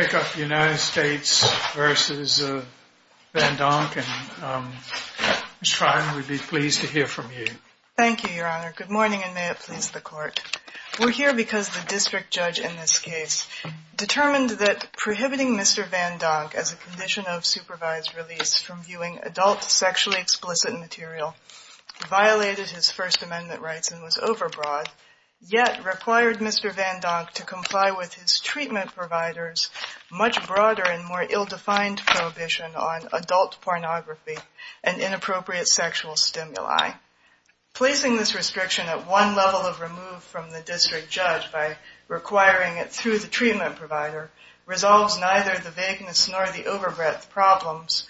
Good morning and may it please the court. We're here because the district judge in this case determined that prohibiting Mr. Vandonk as a condition of supervised release from viewing adult sexually explicit material violated his First Amendment rights and was overbroad, yet required Mr. Vandonk to comply with his treatment providers on the basis of his medical records. Much broader and more ill-defined prohibition on adult pornography and inappropriate sexual stimuli. Placing this restriction at one level of remove from the district judge by requiring it through the treatment provider resolves neither the vagueness nor the overbreadth problems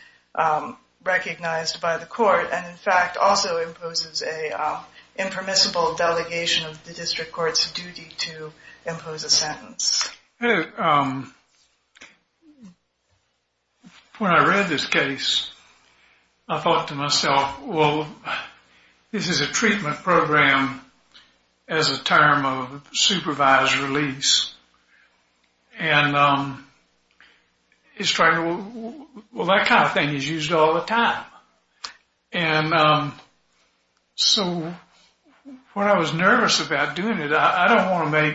recognized by the court and in fact also imposes a impermissible delegation of the district court's duty to impose a sentence. Mr. Vandonk When I read this case, I thought to myself, well, this is a treatment program as a term of supervised release. And it's trying to, well that kind of thing is used all the time. And so when I was nervous about doing it, I don't want to make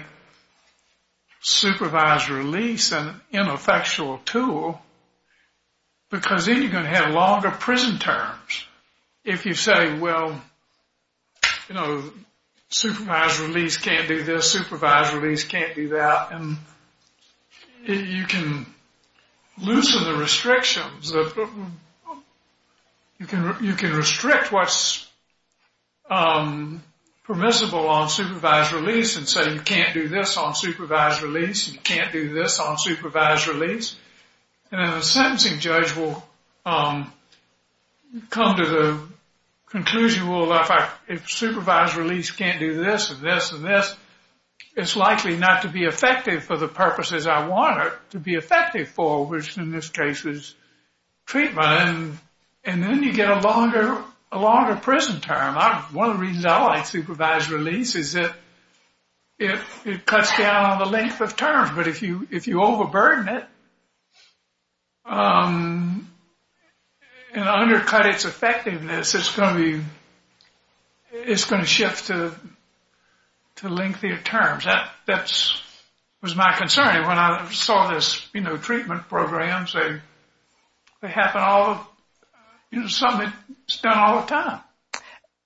supervised release an ineffectual tool because then you're going to have longer prison terms if you say, well, you know, supervised release can't do this, supervised release can't do that. And you can loosen the restrictions. You can restrict what's permissible on supervised release and say you can't do this on supervised release, you can't do this on supervised release. And then the sentencing judge will come to the conclusion, well, in fact, if supervised release can't do this and this and this, it's likely not to be effective for the purposes I want it to be effective for, which in this case is treatment. And then you get a longer prison term. One of the reasons I like supervised release is that it cuts down on the length of terms. But if you overburden it and undercut its effectiveness, it's going to shift to lengthier terms. That was my concern when I saw this, you know, treatment programs, they happen all, you know, something that's done all the time.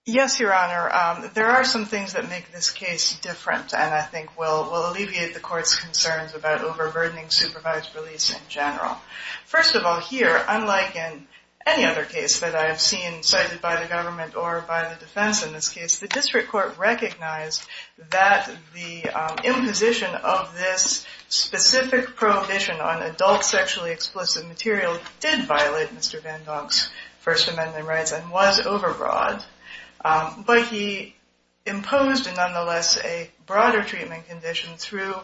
Yes, Your Honor, there are some things that make this case different and I think will alleviate the court's concerns about overburdening supervised release in general. First of all, here, unlike in any other case that I have seen cited by the government or by the defense in this case, the district court recognized that the imposition of this specific prohibition on adult sexually explicit material did violate Mr. Van Donk's First Amendment rights and was overbroad. But he imposed, nonetheless, a broader treatment condition through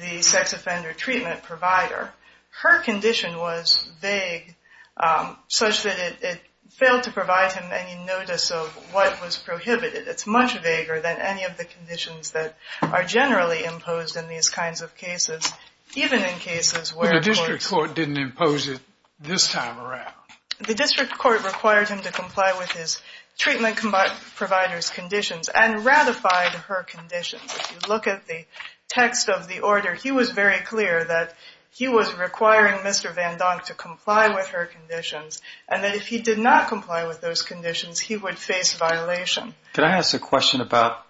the sex offender treatment provider. Her condition was vague, such that it failed to provide him any notice of what was prohibited. It's much vaguer than any of the conditions that are generally imposed in these kinds of cases, even in cases where the district court didn't impose it this time around. The district court required him to comply with his treatment provider's conditions and ratified her conditions. If you look at the text of the order, he was very clear that he was requiring Mr. Van Donk to comply with her conditions and that if he did not comply with those conditions, he would face violation. Can I ask a question about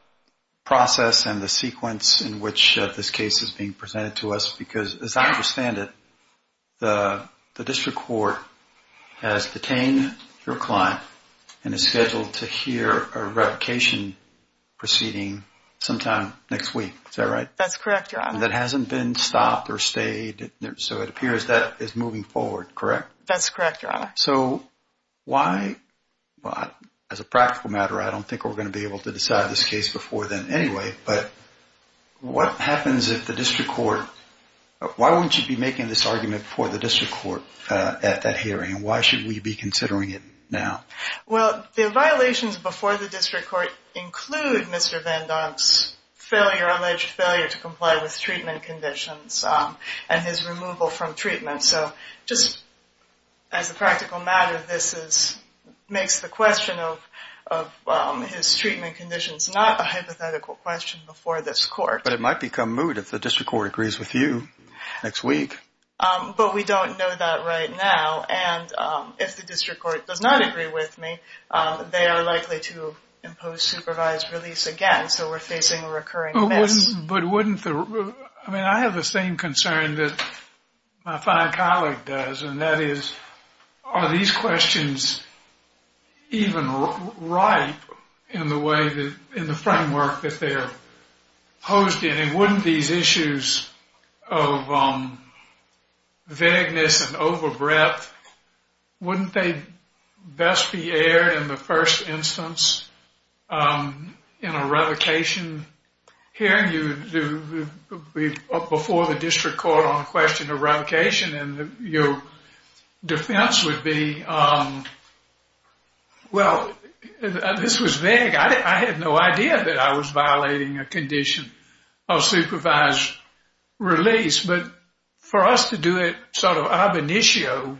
process and the sequence in which this case is being presented to us? Because as I understand it, the district court has detained your client and is scheduled to hear a revocation proceeding sometime next week. Is that right? That's correct, Your Honor. That hasn't been stopped or stayed, so it appears that is moving forward, correct? That's correct, Your Honor. As a practical matter, I don't think we're going to be able to decide this case before then anyway, but why wouldn't you be making this argument before the district court at that hearing and why should we be considering it now? Well, the violations before the district court include Mr. Van Donk's alleged failure to comply with treatment conditions and his removal from treatment, so just as a practical matter, this makes the question of his treatment conditions not a hypothetical question before this court. But it might become moot if the district court agrees with you next week. But we don't know that right now, and if the district court does not agree with me, they are likely to impose supervised release again, so we're facing a recurring miss. I mean, I have the same concern that my fine colleague does, and that is, are these questions even ripe in the framework that they're posed in? I mean, wouldn't these issues of vagueness and overbreadth, wouldn't they best be aired in the first instance in a revocation hearing before the district court on the question of revocation? And your defense would be, well, this was vague. I had no idea that I was violating a condition of supervised release. But for us to do it sort of ab initio,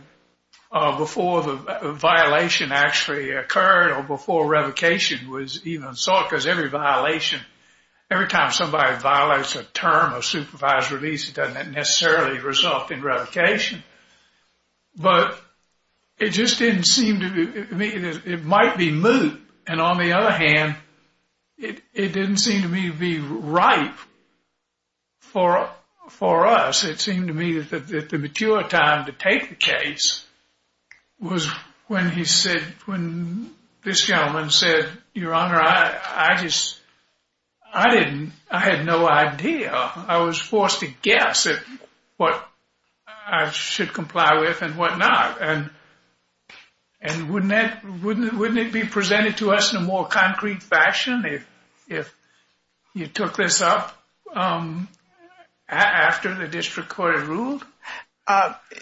before the violation actually occurred or before revocation was even sought, because every violation, every time somebody violates a term of supervised release, it doesn't necessarily result in revocation. But it just didn't seem to me that it might be moot. And on the other hand, it didn't seem to me to be ripe for us. It seemed to me that the mature time to take the case was when he said, when this gentleman said, Your Honor, I just, I didn't, I had no idea. I was forced to guess at what I should comply with and whatnot. And wouldn't it be presented to us in a more concrete fashion if you took this up after the district court had ruled?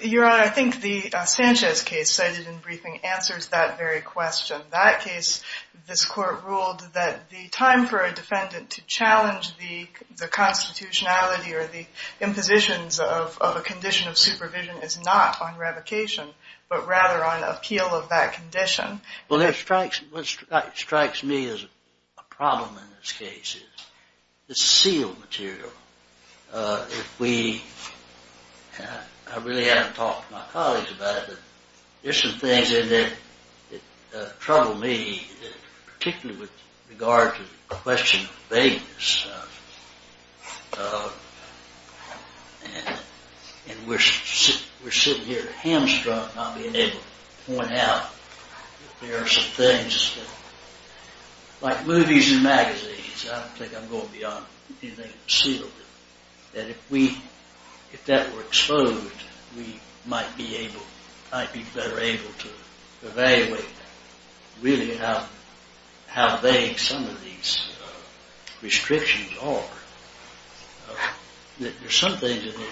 Your Honor, I think the Sanchez case cited in briefing answers that very question. That case, this court ruled that the time for a defendant to challenge the constitutionality or the impositions of a condition of supervision is not on revocation, but rather on appeal of that condition. Well, what strikes me as a problem in this case is the sealed material. If we, I really haven't talked to my colleagues about it, but there's some things in there that trouble me, particularly with regard to the question of vagueness. And we're sitting here hamstrung not being able to point out that there are some things that, like movies and magazines, I don't think I'm going to be on anything sealed. And if we, if that were exposed, we might be able, might be better able to evaluate really how vague some of these restrictions are. There's some things in there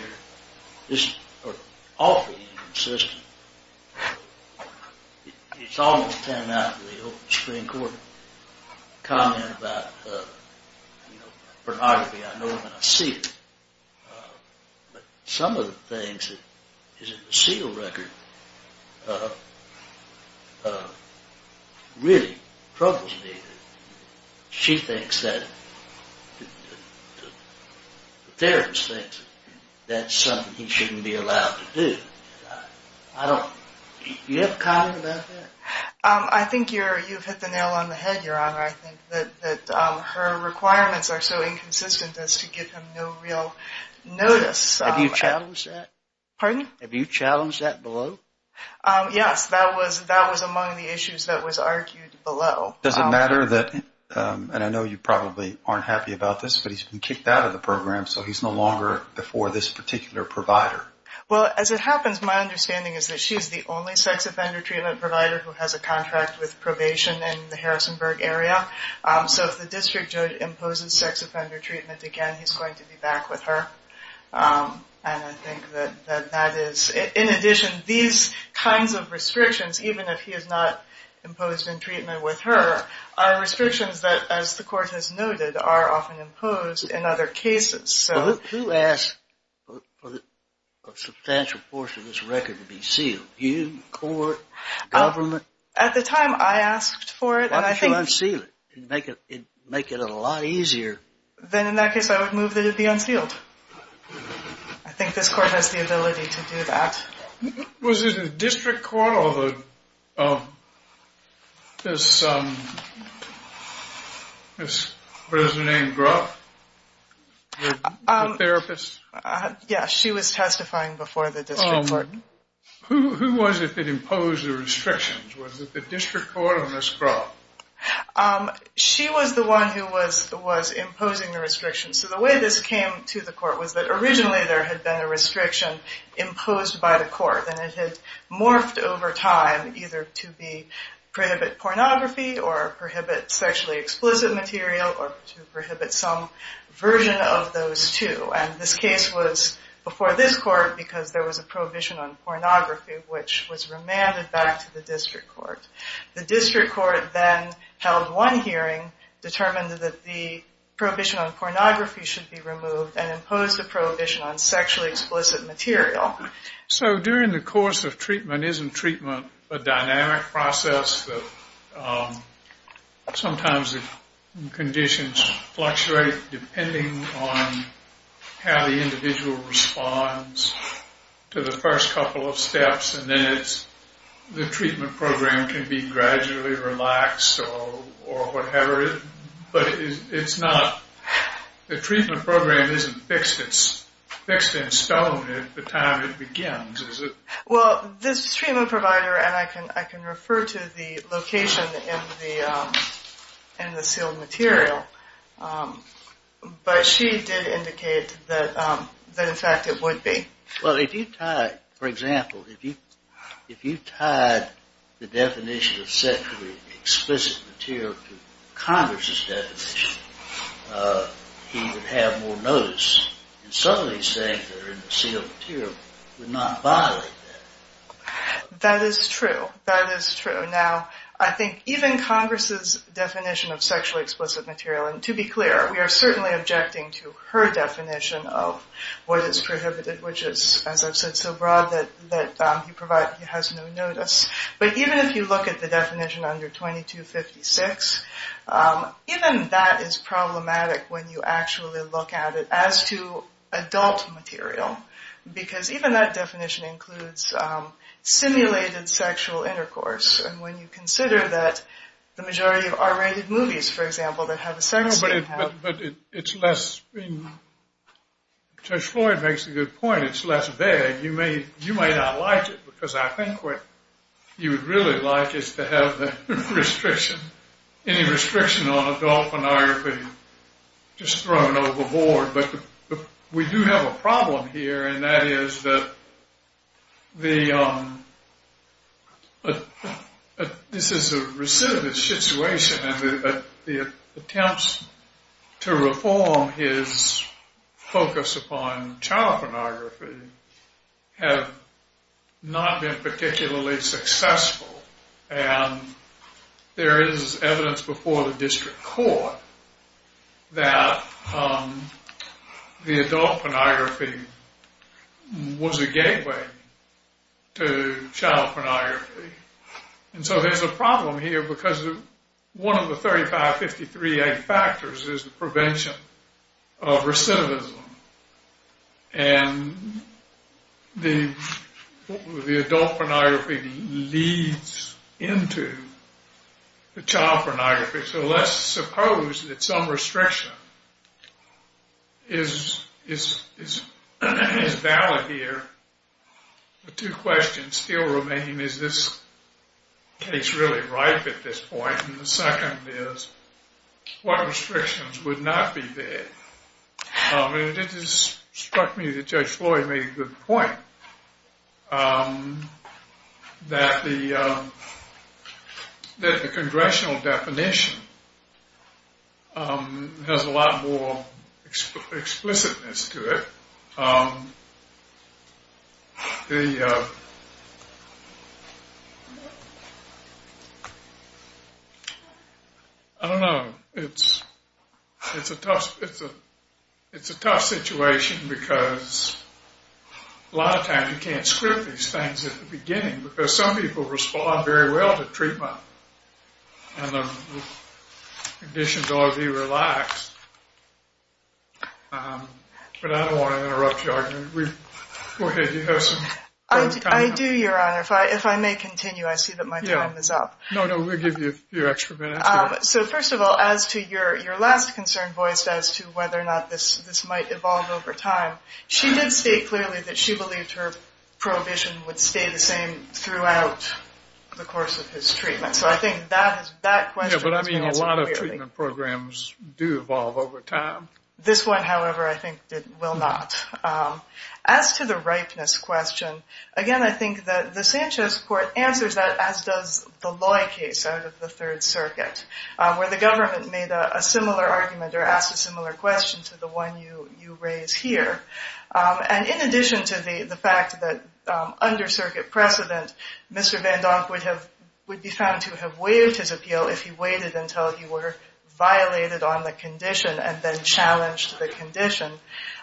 that are awfully inconsistent. It's almost turning out to be an old Supreme Court comment about pornography. I know it when I see it. But some of the things that is in the sealed record really troubles me. She thinks that, the therapist thinks that's something he shouldn't be allowed to do. I don't, do you have a comment about that? I think you've hit the nail on the head, Your Honor. I think that her requirements are so inconsistent as to give him no real notice. Have you challenged that? Pardon? Have you challenged that below? Yes, that was among the issues that was argued below. Does it matter that, and I know you probably aren't happy about this, but he's been kicked out of the program, so he's no longer before this particular provider. Well, as it happens, my understanding is that she's the only sex offender treatment provider who has a contract with probation in the Harrisonburg area. So if the district judge imposes sex offender treatment again, he's going to be back with her. And I think that that is, in addition, these kinds of restrictions, even if he is not imposed in treatment with her, are restrictions that, as the court has noted, are often imposed in other cases. Who asked for a substantial portion of this record to be sealed? You, the court, government? At the time, I asked for it. Why don't you unseal it? It would make it a lot easier. Then, in that case, I would move that it be unsealed. I think this court has the ability to do that. Was it the district court or the, this, what is her name, Groff? The therapist? Yes, she was testifying before the district court. Who was it that imposed the restrictions? Was it the district court or Ms. Groff? She was the one who was imposing the restrictions. So the way this came to the court was that originally there had been a restriction imposed by the court, and it had morphed over time either to prohibit pornography or prohibit sexually explicit material or to prohibit some version of those two. And this case was before this court because there was a prohibition on pornography, which was remanded back to the district court. The district court then held one hearing, determined that the prohibition on pornography should be removed, and imposed a prohibition on sexually explicit material. So during the course of treatment, isn't treatment a dynamic process? Sometimes the conditions fluctuate depending on how the individual responds to the first couple of steps, and then it's, the treatment program can be gradually relaxed or whatever. But it's not, the treatment program isn't fixed in stone at the time it begins, is it? Well, this treatment provider, and I can refer to the location in the sealed material, but she did indicate that in fact it would be. Well, if you tied, for example, if you tied the definition of sexually explicit material to Congress' definition, he would have more notice. And so he's saying that the sealed material would not violate that. That is true. That is true. Now, I think even Congress' definition of sexually explicit material, and to be clear, we are certainly objecting to her definition of what is prohibited, which is, as I've said so broad, that he has no notice. But even if you look at the definition under 2256, even that is problematic when you actually look at it as to adult material. Because even that definition includes simulated sexual intercourse, and when you consider that the majority of R-rated movies, for example, that have a sex scene have... But it's less, Judge Floyd makes a good point, it's less vague. You may not like it, because I think what you would really like is to have the restriction, any restriction on adult pornography just thrown overboard. But we do have a problem here, and that is that the... This is a recidivist situation, and the attempts to reform his focus upon child pornography have not been particularly successful. And there is evidence before the district court that the adult pornography was a gateway to child pornography. And so there's a problem here, because one of the 35-53-8 factors is the prevention of recidivism, and the adult pornography leads into the child pornography. So let's suppose that some restriction is valid here. The two questions still remain, is this case really ripe at this point? And the second is, what restrictions would not be there? It just struck me that Judge Floyd made a good point, that the congressional definition has a lot more explicitness to it. The... I don't know, it's a tough situation, because a lot of times you can't script these things at the beginning, because some people respond very well to treatment, and the conditions ought to be relaxed. But I don't want to interrupt your argument. Go ahead, you have some... I do, Your Honor. If I may continue, I see that my time is up. No, no, we'll give you a few extra minutes. So first of all, as to your last concern voiced as to whether or not this might evolve over time, she did state clearly that she believed her prohibition would stay the same throughout the course of his treatment. Yeah, but I mean, a lot of treatment programs do evolve over time. This one, however, I think will not. As to the ripeness question, again, I think that the Sanchez court answers that as does the Loy case out of the Third Circuit, where the government made a similar argument or asked a similar question to the one you raise here. And in addition to the fact that under Circuit precedent, Mr. Van Donk would be found to have waived his appeal if he waited until he were violated on the condition and then challenged the condition,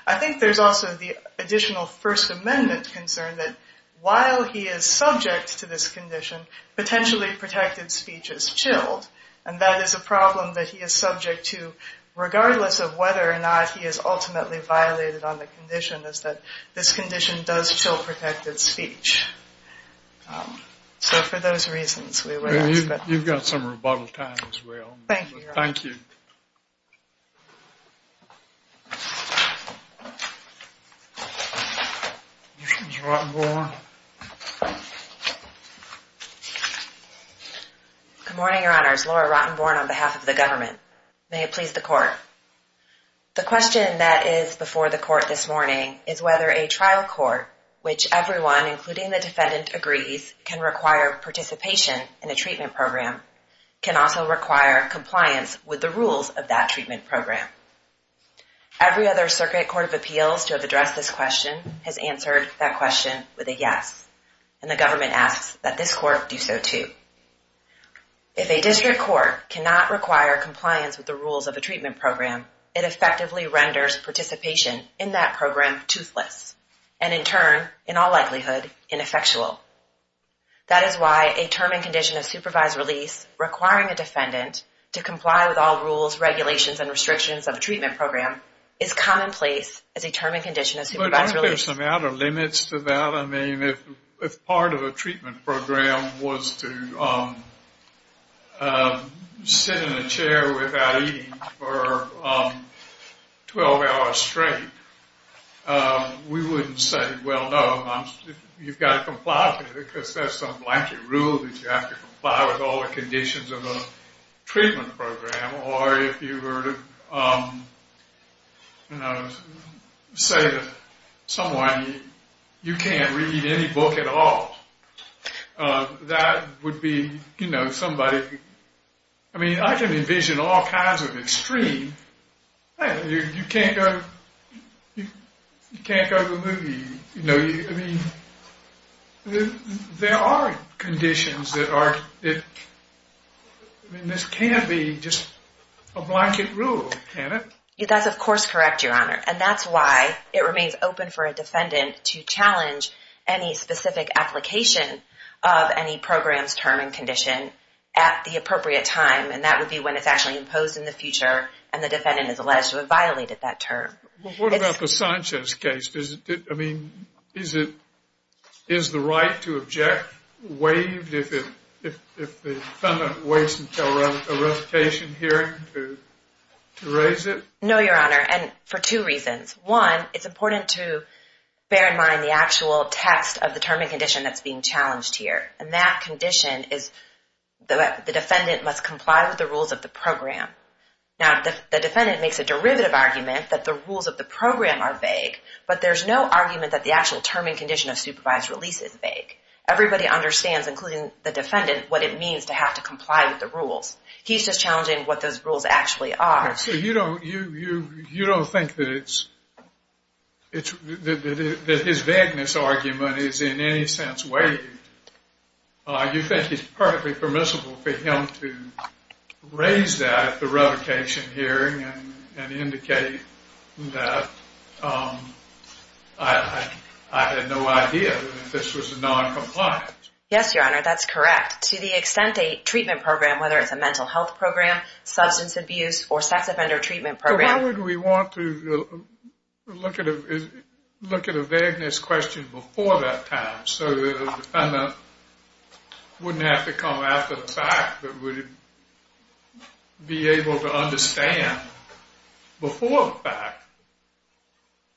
I think there's also the additional First Amendment concern that while he is subject to this condition, potentially protected speech is chilled. And that is a problem that he is subject to, regardless of whether or not he is ultimately violated on the condition, is that this condition does chill protected speech. So for those reasons, we would ask that. You've got some rebuttal time as well. Thank you, Your Honor. Thank you. Ms. Rottenborn. Good morning, Your Honors. Laura Rottenborn on behalf of the government. May it please the Court. The question that is before the Court this morning is whether a trial court, which everyone, including the defendant, agrees can require participation in a treatment program, can also require compliance with the rules of that treatment program. Every other Circuit Court of Appeals to have addressed this question has answered that question with a yes. And the government asks that this Court do so too. If a district court cannot require compliance with the rules of a treatment program, it effectively renders participation in that program toothless, and in turn, in all likelihood, ineffectual. That is why a term and condition of supervised release requiring a defendant to comply with all rules, regulations, and restrictions of a treatment program is commonplace as a term and condition of supervised release. I think there's some outer limits to that. I mean, if part of a treatment program was to sit in a chair without eating for 12 hours straight, we wouldn't say, well, no, you've got to comply with it because there's some blanket rule that you have to comply with all the conditions of a treatment program. Or if you were to say to someone, you can't read any book at all, that would be, you know, somebody, I mean, I can envision all kinds of extremes. I mean, you can't go to the movie, you know, I mean, there are conditions that are, I mean, this can't be just a blanket rule, can it? That's of course correct, Your Honor, and that's why it remains open for a defendant to challenge any specific application of any program's term and condition at the appropriate time, and that would be when it's actually imposed in the future and the defendant is alleged to have violated that term. Well, what about the Sanchez case? I mean, is the right to object waived if the defendant waits until a revocation hearing to raise it? No, Your Honor, and for two reasons. One, it's important to bear in mind the actual text of the term and condition that's being challenged here, and that condition is that the defendant must comply with the rules of the program. Now, the defendant makes a derivative argument that the rules of the program are vague, but there's no argument that the actual term and condition of supervised release is vague. Everybody understands, including the defendant, what it means to have to comply with the rules. He's just challenging what those rules actually are. So you don't think that his vagueness argument is in any sense waived? You think it's perfectly permissible for him to raise that at the revocation hearing and indicate that I had no idea that this was noncompliant? Yes, Your Honor, that's correct. To the extent a treatment program, whether it's a mental health program, substance abuse, or sex offender treatment program... Why would we want to look at a vagueness question before that time so that the defendant wouldn't have to come after the fact, but would be able to understand before the fact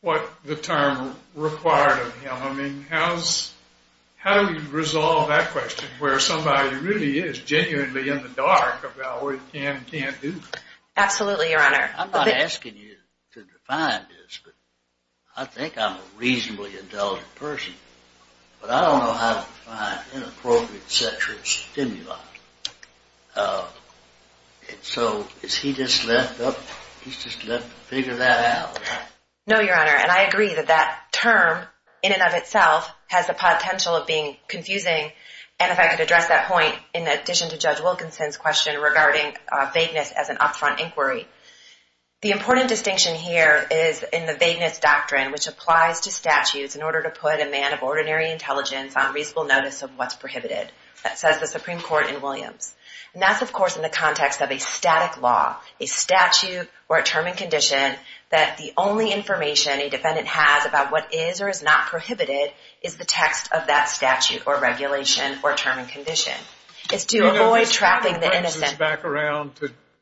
what the term required of him? I mean, how do we resolve that question where somebody really is genuinely in the dark about what he can and can't do? Absolutely, Your Honor. I'm not asking you to define this, but I think I'm a reasonably intelligent person, but I don't know how to define inappropriate sexual stimuli. So is he just left to figure that out? No, Your Honor, and I agree that that term in and of itself has the potential of being confusing, and if I could address that point in addition to Judge Wilkinson's question regarding vagueness as an upfront inquiry. The important distinction here is in the vagueness doctrine, which applies to statutes in order to put a man of ordinary intelligence on reasonable notice of what's prohibited. That says the Supreme Court in Williams. And that's, of course, in the context of a static law, a statute or a term and condition that the only information a defendant has about what is or is not prohibited is the text of that statute or regulation or term and condition. It's to avoid trapping the innocent. And we would know more what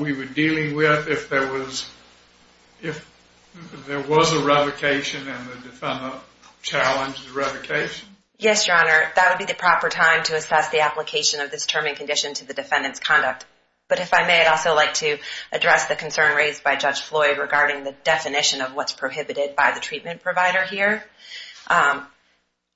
we were dealing with if there was a revocation and the defendant challenged the revocation? Yes, Your Honor. That would be the proper time to assess the application of this term and condition to the defendant's conduct. But if I may, I'd also like to address the concern raised by Judge Floyd regarding the definition of what's prohibited by the treatment provider here.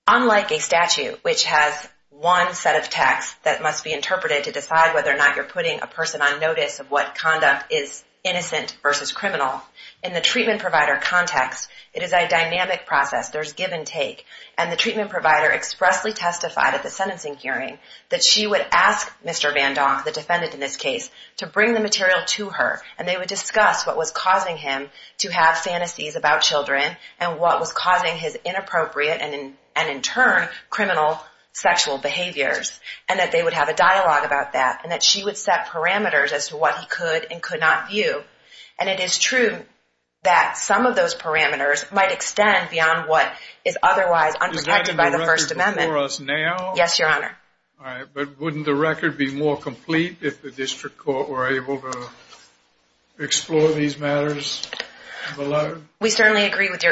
Unlike a statute, which has one set of text that must be interpreted to decide whether or not you're putting a person on notice of what conduct is innocent versus criminal, in the treatment provider context, it is a dynamic process. There's give and take. And the treatment provider expressly testified at the sentencing hearing that she would ask Mr. Van Donk, the defendant in this case, to bring the material to her. And they would discuss what was causing him to have fantasies about children and what was causing his inappropriate and, in turn, criminal sexual behaviors. And that they would have a dialogue about that. And that she would set parameters as to what he could and could not view. And it is true that some of those parameters might extend beyond what is otherwise unprotected by the First Amendment. Is that in the record for us now? Yes, Your Honor. All right. But wouldn't the record be more complete if the district court were able to explore these matters below? We certainly agree with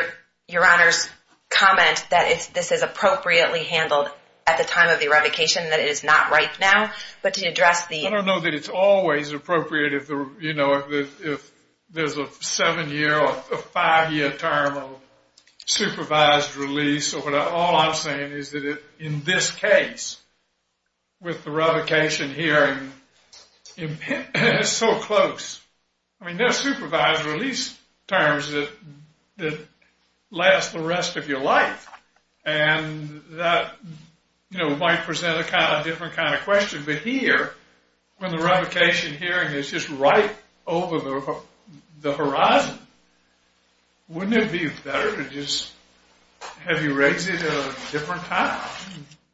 Your Honor's comment that this is appropriately handled at the time of the revocation, that it is not right now. I don't know that it's always appropriate if there's a seven-year or a five-year term of supervised release. All I'm saying is that in this case, with the revocation hearing, it's so close. I mean, there are supervised release terms that last the rest of your life. And that, you know, might present a different kind of question. But here, when the revocation hearing is just right over the horizon, wouldn't it be better to just have you raise it at a different time?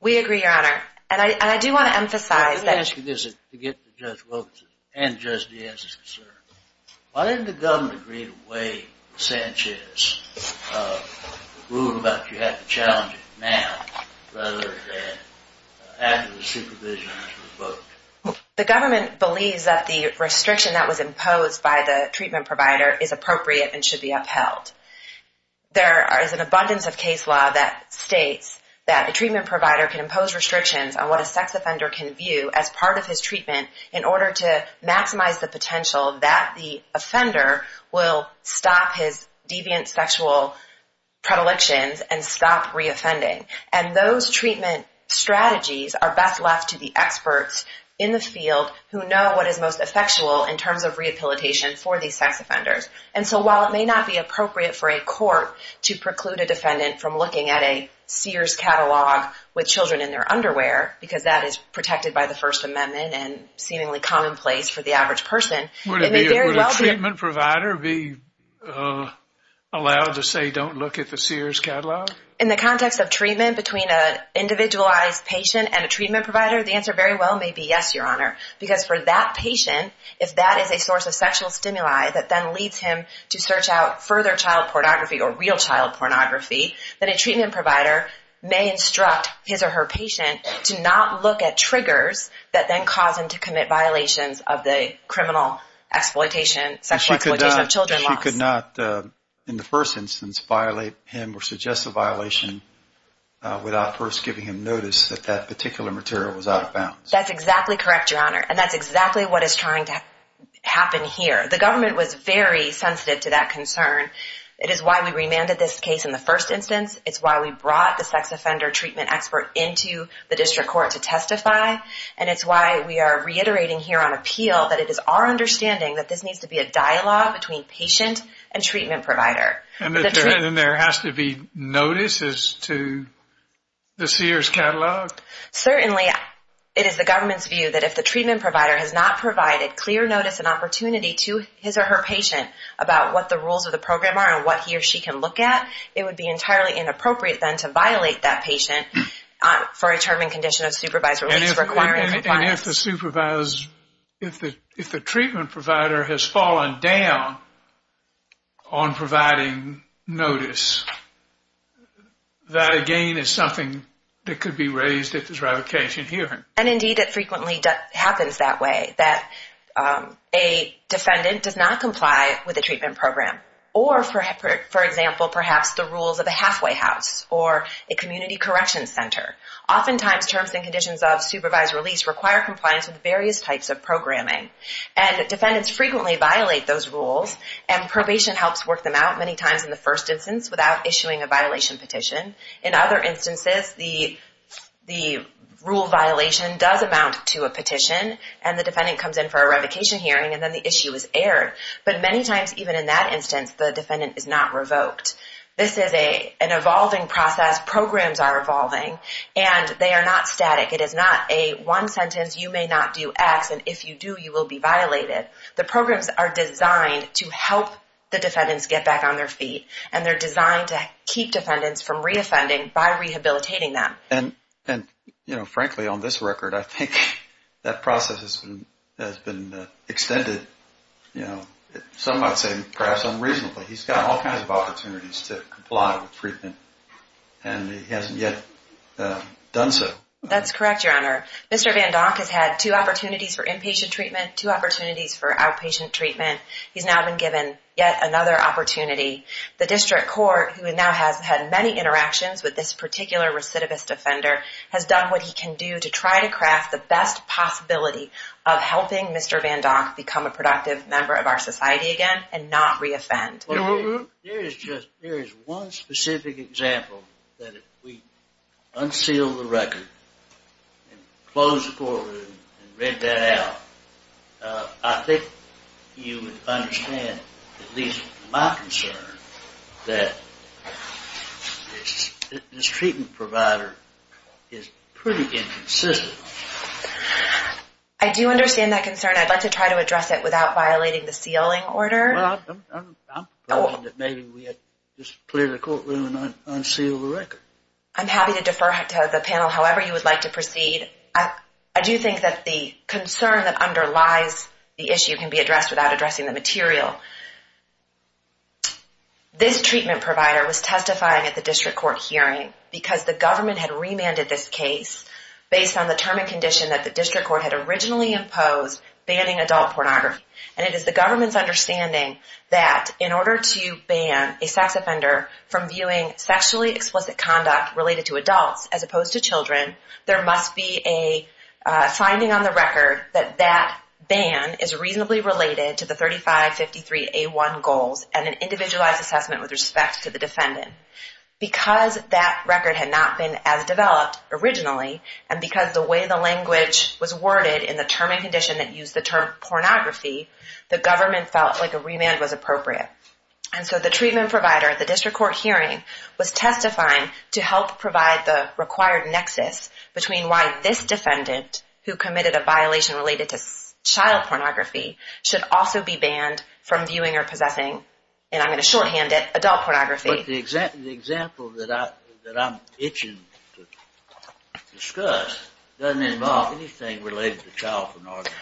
We agree, Your Honor. And I do want to emphasize that— I'm asking this to get to Judge Wilkerson and Judge Diaz's concern. Why didn't the government agree to waive Sanchez's rule about you have to challenge it now rather than after the supervision has revoked? The government believes that the restriction that was imposed by the treatment provider is appropriate and should be upheld. There is an abundance of case law that states that a treatment provider can impose restrictions on what a sex offender can view as part of his treatment in order to maximize the potential that the offender will stop his deviant sexual predilections and stop reoffending. And those treatment strategies are best left to the experts in the field who know what is most effectual in terms of rehabilitation for these sex offenders. And so while it may not be appropriate for a court to preclude a defendant from looking at a Sears catalog with children in their underwear, because that is protected by the First Amendment and seemingly commonplace for the average person— Would a treatment provider be allowed to say don't look at the Sears catalog? In the context of treatment between an individualized patient and a treatment provider, the answer very well may be yes, Your Honor. Because for that patient, if that is a source of sexual stimuli that then leads him to search out further child pornography or real child pornography, then a treatment provider may instruct his or her patient to not look at triggers that then cause him to commit violations of the criminal exploitation, sexual exploitation of children laws. She could not, in the first instance, violate him or suggest a violation without first giving him notice that that particular material was out of bounds. That's exactly correct, Your Honor, and that's exactly what is trying to happen here. The government was very sensitive to that concern. It is why we remanded this case in the first instance. It's why we brought the sex offender treatment expert into the district court to testify. And it's why we are reiterating here on appeal that it is our understanding that this needs to be a dialogue between patient and treatment provider. And there has to be notices to the Sears catalog? Certainly, it is the government's view that if the treatment provider has not provided clear notice and opportunity to his or her patient about what the rules of the program are and what he or she can look at, it would be entirely inappropriate then to violate that patient for a determined condition of supervised release requirement. And if the supervisor, if the treatment provider has fallen down on providing notice, that again is something that could be raised at this ratification hearing. And indeed, it frequently happens that way, that a defendant does not comply with a treatment program. Or, for example, perhaps the rules of a halfway house or a community correction center. Oftentimes, terms and conditions of supervised release require compliance with various types of programming. And defendants frequently violate those rules. And probation helps work them out many times in the first instance without issuing a violation petition. In other instances, the rule violation does amount to a petition. And the defendant comes in for a revocation hearing. And then the issue is aired. But many times, even in that instance, the defendant is not revoked. This is an evolving process. Programs are evolving. And they are not static. It is not a one sentence. You may not do X. And if you do, you will be violated. The programs are designed to help the defendants get back on their feet. And they're designed to keep defendants from re-offending by rehabilitating them. And, frankly, on this record, I think that process has been extended. Some might say perhaps unreasonably. He's got all kinds of opportunities to comply with treatment. And he hasn't yet done so. That's correct, Your Honor. Mr. VanDock has had two opportunities for inpatient treatment, two opportunities for outpatient treatment. He's now been given yet another opportunity. The district court, who now has had many interactions with this particular recidivist offender, has done what he can do to try to craft the best possibility of helping Mr. VanDock become a productive member of our society again and not re-offend. There is one specific example that if we unseal the record and close the courtroom and read that out, I think you would understand, at least my concern, that this treatment provider is pretty inconsistent. I do understand that concern. I'd like to try to address it without violating the sealing order. Well, I'm proposing that maybe we just clear the courtroom and unseal the record. I'm happy to defer to the panel however you would like to proceed. I do think that the concern that underlies the issue can be addressed without addressing the material. This treatment provider was testifying at the district court hearing because the government had remanded this case based on the term and condition that the district court had originally imposed banning adult pornography. And it is the government's understanding that in order to ban a sex offender from viewing sexually explicit conduct related to adults as opposed to children, there must be a finding on the record that that ban is reasonably related to the 3553A1 goals and an individualized assessment with respect to the defendant. Because that record had not been as developed originally and because the way the language was worded in the term and condition that used the term pornography, the government felt like a remand was appropriate. And so the treatment provider at the district court hearing was testifying to help provide the required nexus between why this defendant, who committed a violation related to child pornography, should also be banned from viewing or possessing, and I'm going to shorthand it, adult pornography. But the example that I'm itching to discuss doesn't involve anything related to child pornography.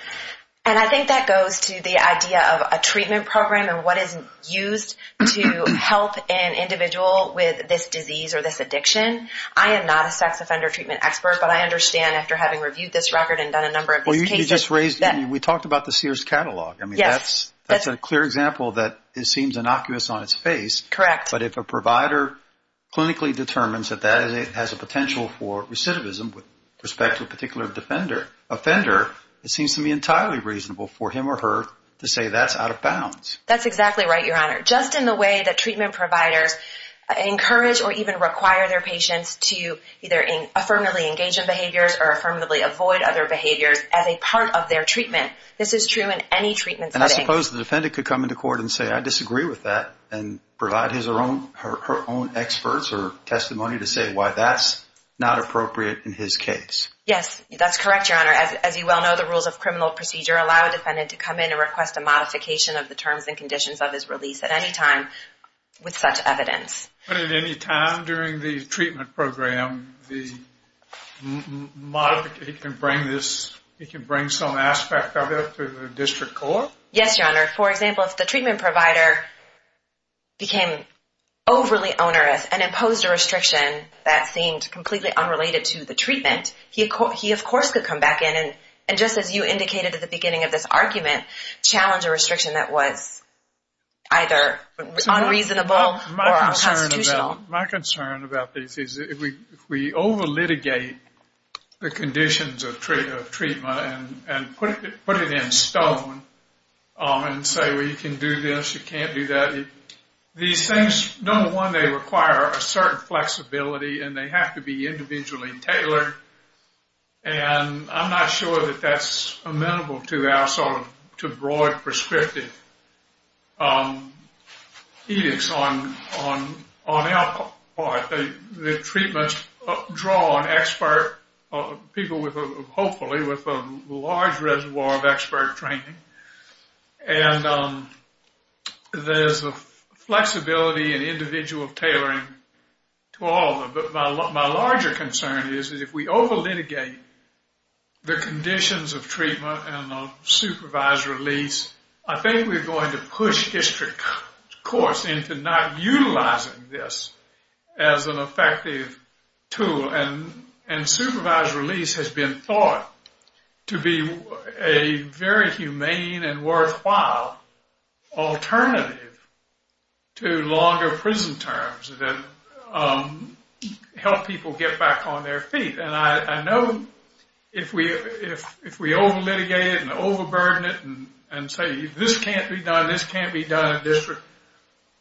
And I think that goes to the idea of a treatment program and what is used to help an individual with this disease or this addiction. I am not a sex offender treatment expert, but I understand after having reviewed this record and done a number of these cases that I mean, we talked about the Sears catalog. I mean, that's a clear example that it seems innocuous on its face. Correct. But if a provider clinically determines that that has a potential for recidivism with respect to a particular offender, it seems to me entirely reasonable for him or her to say that's out of bounds. That's exactly right, Your Honor. Just in the way that treatment providers encourage or even require their patients to either affirmatively engage in behaviors or affirmatively avoid other behaviors as a part of their treatment. This is true in any treatment setting. And I suppose the defendant could come into court and say, I disagree with that, and provide his or her own experts or testimony to say why that's not appropriate in his case. Yes, that's correct, Your Honor. As you well know, the rules of criminal procedure allow a defendant to come in and request a modification of the terms and conditions of his release at any time with such evidence. But at any time during the treatment program, he can bring some aspect of it to the district court? Yes, Your Honor. For example, if the treatment provider became overly onerous and imposed a restriction that seemed completely unrelated to the treatment, he of course could come back in and just as you indicated at the beginning of this argument, challenge a restriction that was either unreasonable or unconstitutional. My concern about this is if we over-litigate the conditions of treatment and put it in stone and say, well, you can do this, you can't do that, these things, number one, they require a certain flexibility and they have to be individually tailored. And I'm not sure that that's amenable to our sort of broad perspective. On our part, the treatments draw on expert people, hopefully, with a large reservoir of expert training. And there's a flexibility and individual tailoring to all of them. But my larger concern is if we over-litigate the conditions of treatment and of supervised release, I think we're going to push district courts into not utilizing this as an effective tool. And supervised release has been thought to be a very humane and worthwhile alternative to longer prison terms. It helps people get back on their feet. And I know if we over-litigate it and over-burden it and say, this can't be done, this can't be done,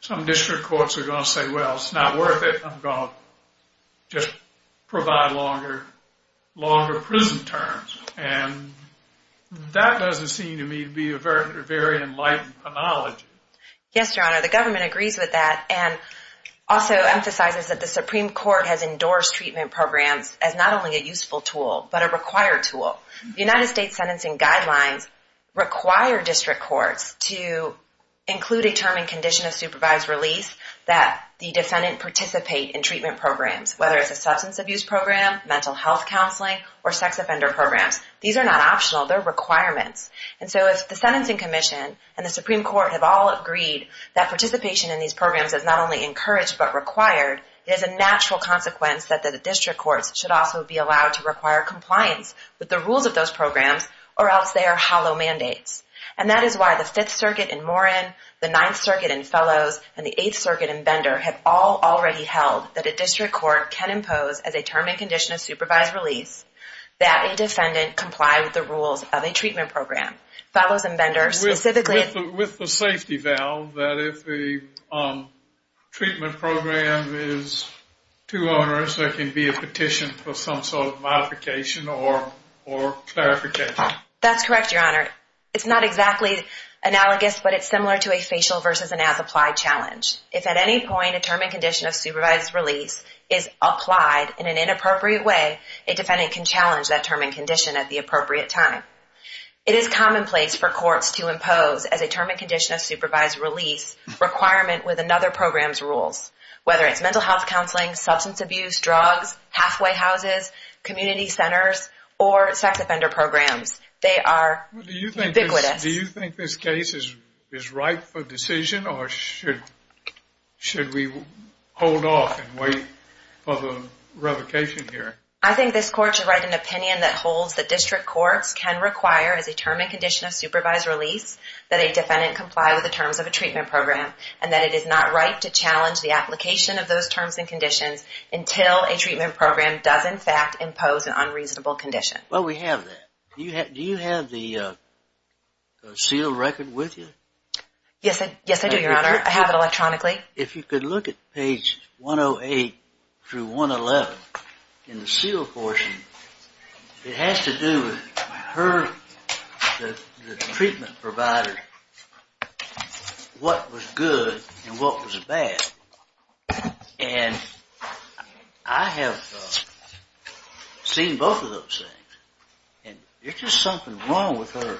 some district courts are going to say, well, it's not worth it. I'm going to just provide longer prison terms. And that doesn't seem to me to be a very enlightened analogy. Yes, Your Honor, the government agrees with that. And also emphasizes that the Supreme Court has endorsed treatment programs as not only a useful tool, but a required tool. The United States Sentencing Guidelines require district courts to include a term and condition of supervised release that the defendant participate in treatment programs, whether it's a substance abuse program, mental health counseling, or sex offender programs. These are not optional. They're requirements. And so if the Sentencing Commission and the Supreme Court have all agreed that participation in these programs is not only encouraged, but required, it is a natural consequence that the district courts should also be allowed to require compliance with the rules of those programs, or else they are hollow mandates. And that is why the Fifth Circuit in Moran, the Ninth Circuit in Fellows, and the Eighth Circuit in Bender have all already held that a district court can impose, as a term and condition of supervised release, that a defendant comply with the rules of a treatment program. Fellows and Bender specifically... Treatment program is, to owners, there can be a petition for some sort of modification or clarification. That's correct, Your Honor. It's not exactly analogous, but it's similar to a facial versus an as-applied challenge. If at any point a term and condition of supervised release is applied in an inappropriate way, a defendant can challenge that term and condition at the appropriate time. It is commonplace for courts to impose, as a term and condition of supervised release, requirement with another program's rules, whether it's mental health counseling, substance abuse, drugs, halfway houses, community centers, or sex offender programs. They are ubiquitous. Do you think this case is ripe for decision, or should we hold off and wait for the revocation hearing? I think this Court should write an opinion that holds that district courts can require, as a term and condition of supervised release, that a defendant comply with the terms of a treatment program, and that it is not ripe to challenge the application of those terms and conditions until a treatment program does, in fact, impose an unreasonable condition. Well, we have that. Do you have the seal record with you? Yes, I do, Your Honor. I have it electronically. I think if you could look at page 108 through 111 in the seal portion, it has to do with the treatment provider, what was good and what was bad. And I have seen both of those things. There's just something wrong with her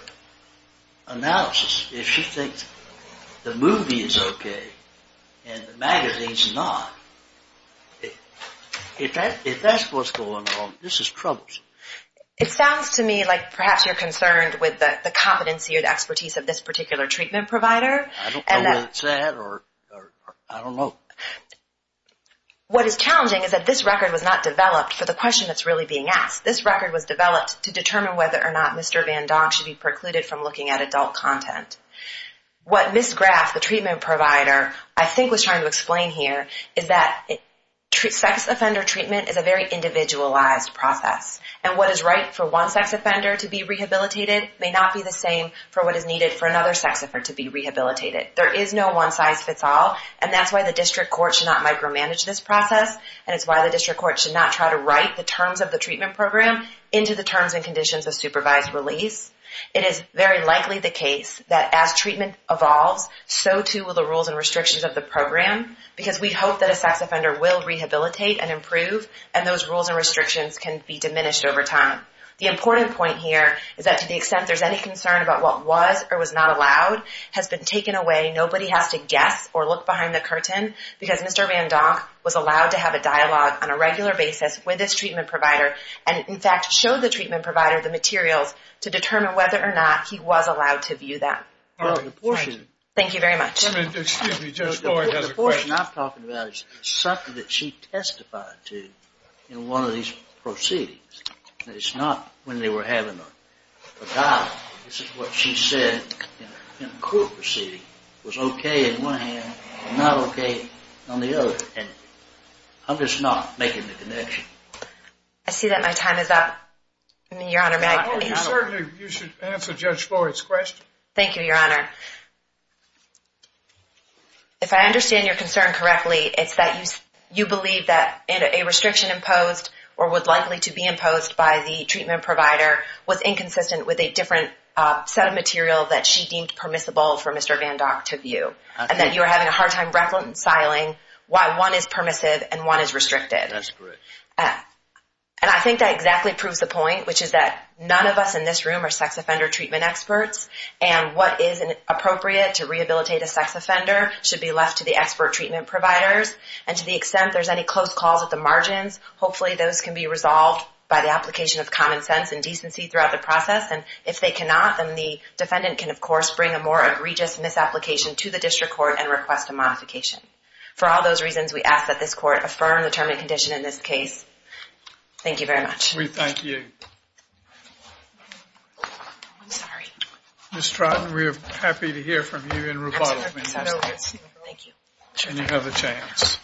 analysis. If she thinks the movie is okay and the magazine's not, if that's what's going on, this is troublesome. It sounds to me like perhaps you're concerned with the competency or the expertise of this particular treatment provider. I don't know whether it's that, or I don't know. What is challenging is that this record was not developed for the question that's really being asked. This record was developed to determine whether or not Mr. Van Dong should be precluded from looking at adult content. What Ms. Graff, the treatment provider, I think was trying to explain here, is that sex offender treatment is a very individualized process, and what is right for one sex offender to be rehabilitated may not be the same for what is needed for another sex offender to be rehabilitated. There is no one-size-fits-all, and that's why the district court should not micromanage this process, and it's why the district court should not try to write the terms of the treatment program into the terms and conditions of supervised release. It is very likely the case that as treatment evolves, so too will the rules and restrictions of the program, because we hope that a sex offender will rehabilitate and improve, and those rules and restrictions can be diminished over time. The important point here is that to the extent there's any concern about what was or was not allowed has been taken away. Nobody has to guess or look behind the curtain, because Mr. Van Dong was allowed to have a dialogue on a regular basis with his treatment provider, and in fact showed the treatment provider the materials to determine whether or not he was allowed to view them. Thank you very much. The portion I'm talking about is something that she testified to in one of these proceedings. It's not when they were having a dialogue. This is what she said in a court proceeding. It was okay in one hand and not okay on the other, and I'm just not making the connection. I see that my time is up. Your Honor, may I? Certainly, you should answer Judge Floyd's question. Thank you, Your Honor. If I understand your concern correctly, it's that you believe that a restriction imposed or would likely to be imposed by the treatment provider was inconsistent with a different set of material that she deemed permissible for Mr. Van Dong to view, and that you are having a hard time reconciling why one is permissive and one is restricted. That's correct. And I think that exactly proves the point, which is that none of us in this room are sex offender treatment experts, and what is appropriate to rehabilitate a sex offender should be left to the expert treatment providers, and to the extent there's any close calls at the margins, hopefully those can be resolved by the application of common sense and decency throughout the process, and if they cannot, then the defendant can, of course, bring a more egregious misapplication to the district court and request a modification. For all those reasons, we ask that this court affirm the term and condition in this case. Thank you very much. We thank you. I'm sorry. Ms. Trotten, we are happy to hear from you in rebuttal. Thank you. Any other chance?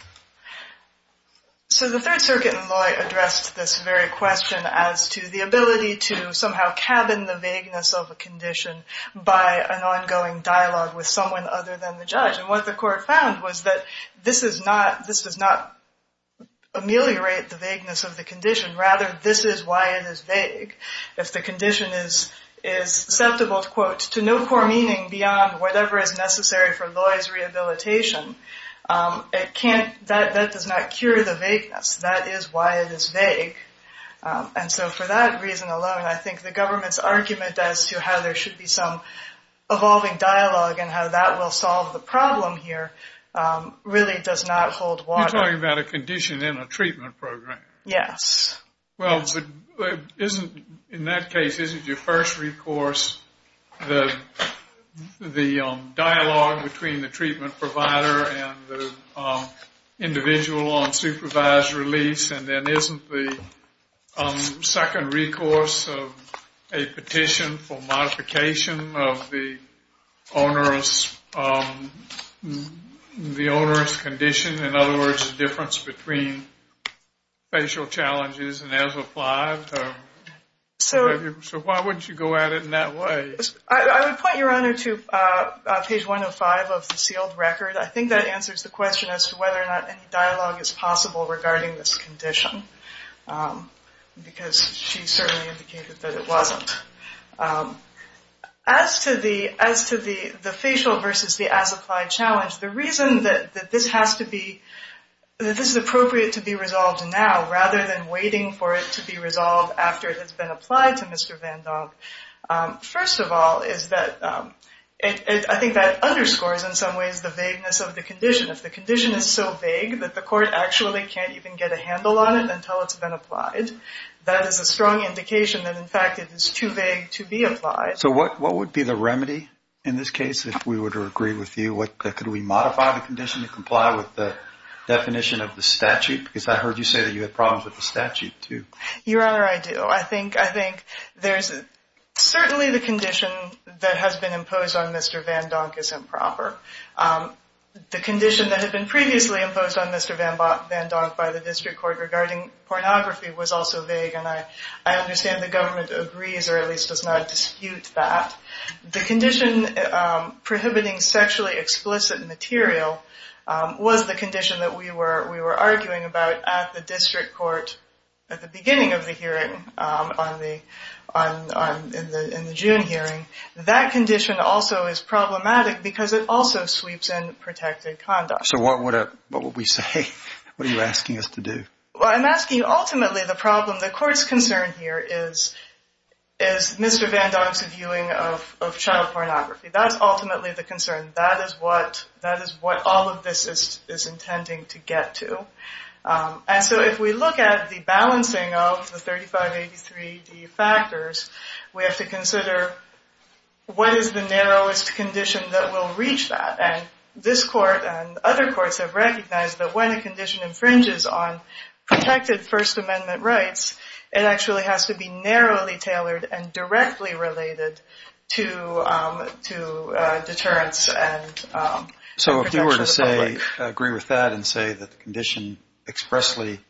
So the Third Circuit in Loy addressed this very question as to the ability to somehow cabin the vagueness of a condition by an ongoing dialogue with someone other than the judge, and what the court found was that this does not ameliorate the vagueness of the condition. Rather, this is why it is vague. If the condition is susceptible, quote, to no core meaning beyond whatever is necessary for Loy's rehabilitation, that does not cure the vagueness. That is why it is vague. And so for that reason alone, I think the government's argument as to how there should be some evolving dialogue and how that will solve the problem here really does not hold water. You're talking about a condition in a treatment program. Yes. Well, in that case, isn't your first recourse the dialogue between the treatment provider and the individual on supervised release, and then isn't the second recourse a petition for modification of the onerous condition? In other words, the difference between facial challenges and as applied? So why wouldn't you go at it in that way? I would point your honor to page 105 of the sealed record. I think that answers the question as to whether or not any dialogue is possible regarding this condition, because she certainly indicated that it wasn't. As to the facial versus the as applied challenge, the reason that this is appropriate to be resolved now, rather than waiting for it to be resolved after it has been applied to Mr. Van Dam, first of all is that I think that underscores in some ways the vagueness of the condition. If the condition is so vague that the court actually can't even get a handle on it until it's been applied, that is a strong indication that in fact it is too vague to be applied. So what would be the remedy in this case if we were to agree with you? Could we modify the condition to comply with the definition of the statute? Because I heard you say that you had problems with the statute too. Your honor, I do. I think there's certainly the condition that has been imposed on Mr. Van Dam is improper. The condition that had been previously imposed on Mr. Van Dam by the district court regarding pornography was also vague, and I understand the government agrees or at least does not dispute that. The condition prohibiting sexually explicit material was the condition that we were arguing about at the district court at the beginning of the hearing in the June hearing. That condition also is problematic because it also sweeps in protected conduct. So what would we say? What are you asking us to do? Well, I'm asking ultimately the problem. The court's concern here is Mr. Van Dam's viewing of child pornography. That's ultimately the concern. That is what all of this is intending to get to. And so if we look at the balancing of the 3583D factors, we have to consider what is the narrowest condition that will reach that. And this court and other courts have recognized that when a condition infringes on protected First Amendment rights, it actually has to be narrowly tailored and directly related to deterrence and protection of the public. I agree with that and say that the condition expressly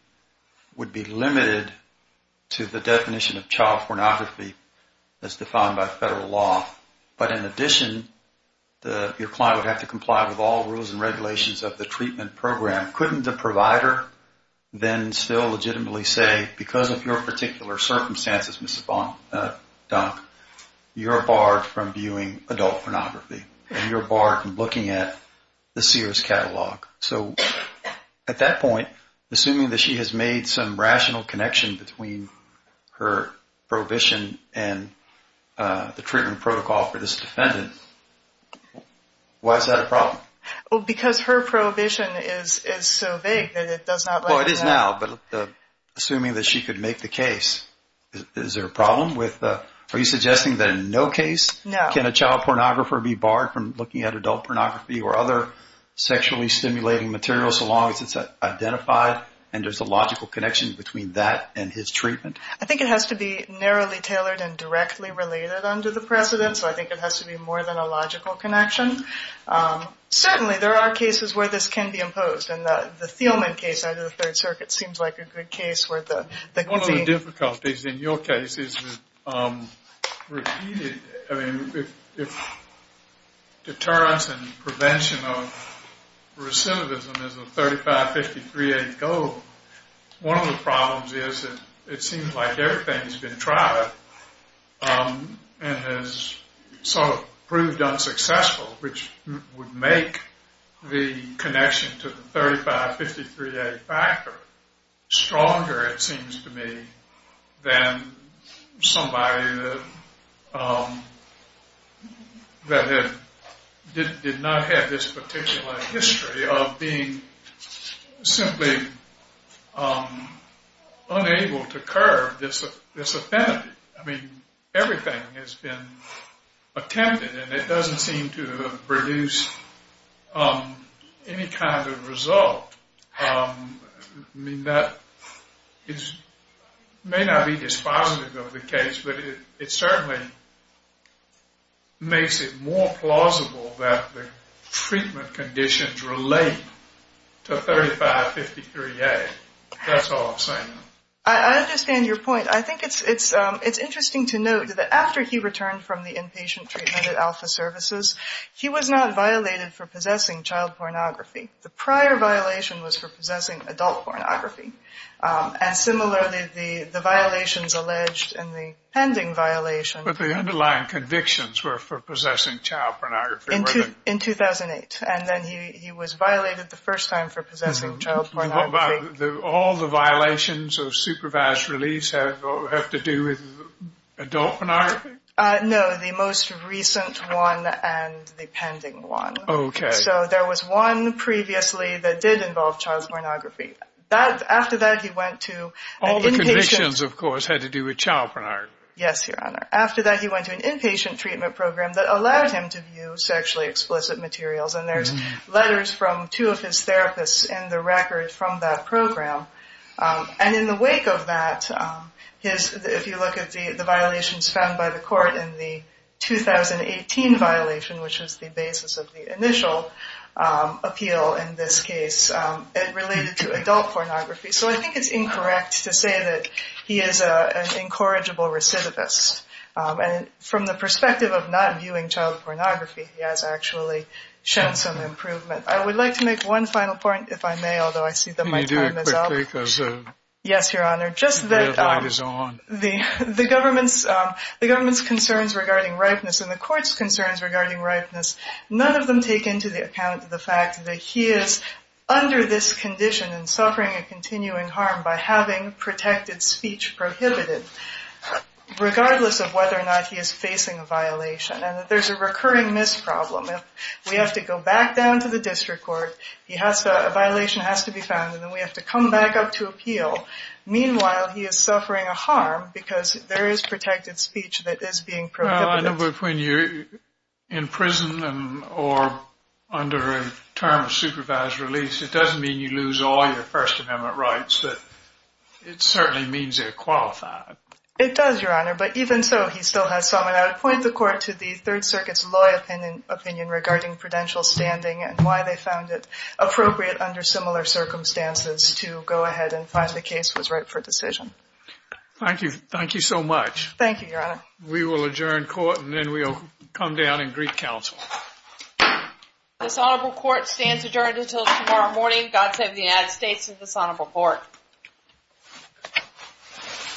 would be limited to the definition of child pornography as defined by federal law. But in addition, your client would have to comply with all rules and regulations of the treatment program. Couldn't the provider then still legitimately say, because of your particular circumstances, Mrs. Van Dam, you're barred from viewing adult pornography and you're barred from looking at the Sears catalog. So at that point, assuming that she has made some rational connection between her prohibition and the treatment protocol for this defendant, why is that a problem? Because her prohibition is so vague that it does not let you know. No, it is now. But assuming that she could make the case, is there a problem? Are you suggesting that in no case can a child pornographer be barred from looking at adult pornography or other sexually stimulating materials so long as it's identified and there's a logical connection between that and his treatment? I think it has to be narrowly tailored and directly related under the precedent. So I think it has to be more than a logical connection. Certainly there are cases where this can be imposed. And the Thielman case out of the Third Circuit seems like a good case where the... One of the difficulties in your case is repeated. I mean, if deterrence and prevention of recidivism is a 35-53-8 goal, one of the problems is that it seems like everything has been tried and has sort of proved unsuccessful, which would make the connection to the 35-53-8 factor stronger, it seems to me, than somebody that did not have this particular history of being simply unable to curb this affinity. I mean, everything has been attempted and it doesn't seem to produce any kind of result. I mean, that may not be dispositive of the case, but it certainly makes it more plausible that the treatment conditions relate to 35-53-8. That's all I'm saying. I understand your point. I think it's interesting to note that after he returned from the inpatient treatment at Alpha Services, he was not violated for possessing child pornography. The prior violation was for possessing adult pornography. And similarly, the violations alleged in the pending violation... But the underlying convictions were for possessing child pornography. In 2008. And then he was violated the first time for possessing child pornography. All the violations of supervised release have to do with adult pornography? No, the most recent one and the pending one. Okay. So there was one previously that did involve child pornography. After that, he went to... All the convictions, of course, had to do with child pornography. Yes, Your Honor. After that, he went to an inpatient treatment program that allowed him to view sexually explicit materials. And there's letters from two of his therapists in the record from that program. And in the wake of that, if you look at the violations found by the court in the 2018 violation, which was the basis of the initial appeal in this case, it related to adult pornography. So I think it's incorrect to say that he is an incorrigible recidivist. And from the perspective of not viewing child pornography, he has actually shown some improvement. I would like to make one final point, if I may, although I see that my time is up. Can you do it quickly? Yes, Your Honor. Just that the government's concerns regarding ripeness and the court's concerns regarding ripeness, none of them take into account the fact that he is under this condition and suffering a continuing harm by having protected speech prohibited, regardless of whether or not he is facing a violation and that there's a recurring misproblem. If we have to go back down to the district court, a violation has to be found, and then we have to come back up to appeal. Meanwhile, he is suffering a harm because there is protected speech that is being prohibited. Well, I know that when you're in prison or under a term of supervised release, it doesn't mean you lose all your First Amendment rights, but it certainly means you're qualified. It does, Your Honor. But even so, he still has something. I would point the court to the Third Circuit's law opinion regarding prudential standing and why they found it appropriate under similar circumstances to go ahead and find the case was right for decision. Thank you so much. Thank you, Your Honor. We will adjourn court, and then we'll come down and greet counsel. This honorable court stands adjourned until tomorrow morning. God save the United States of this honorable court.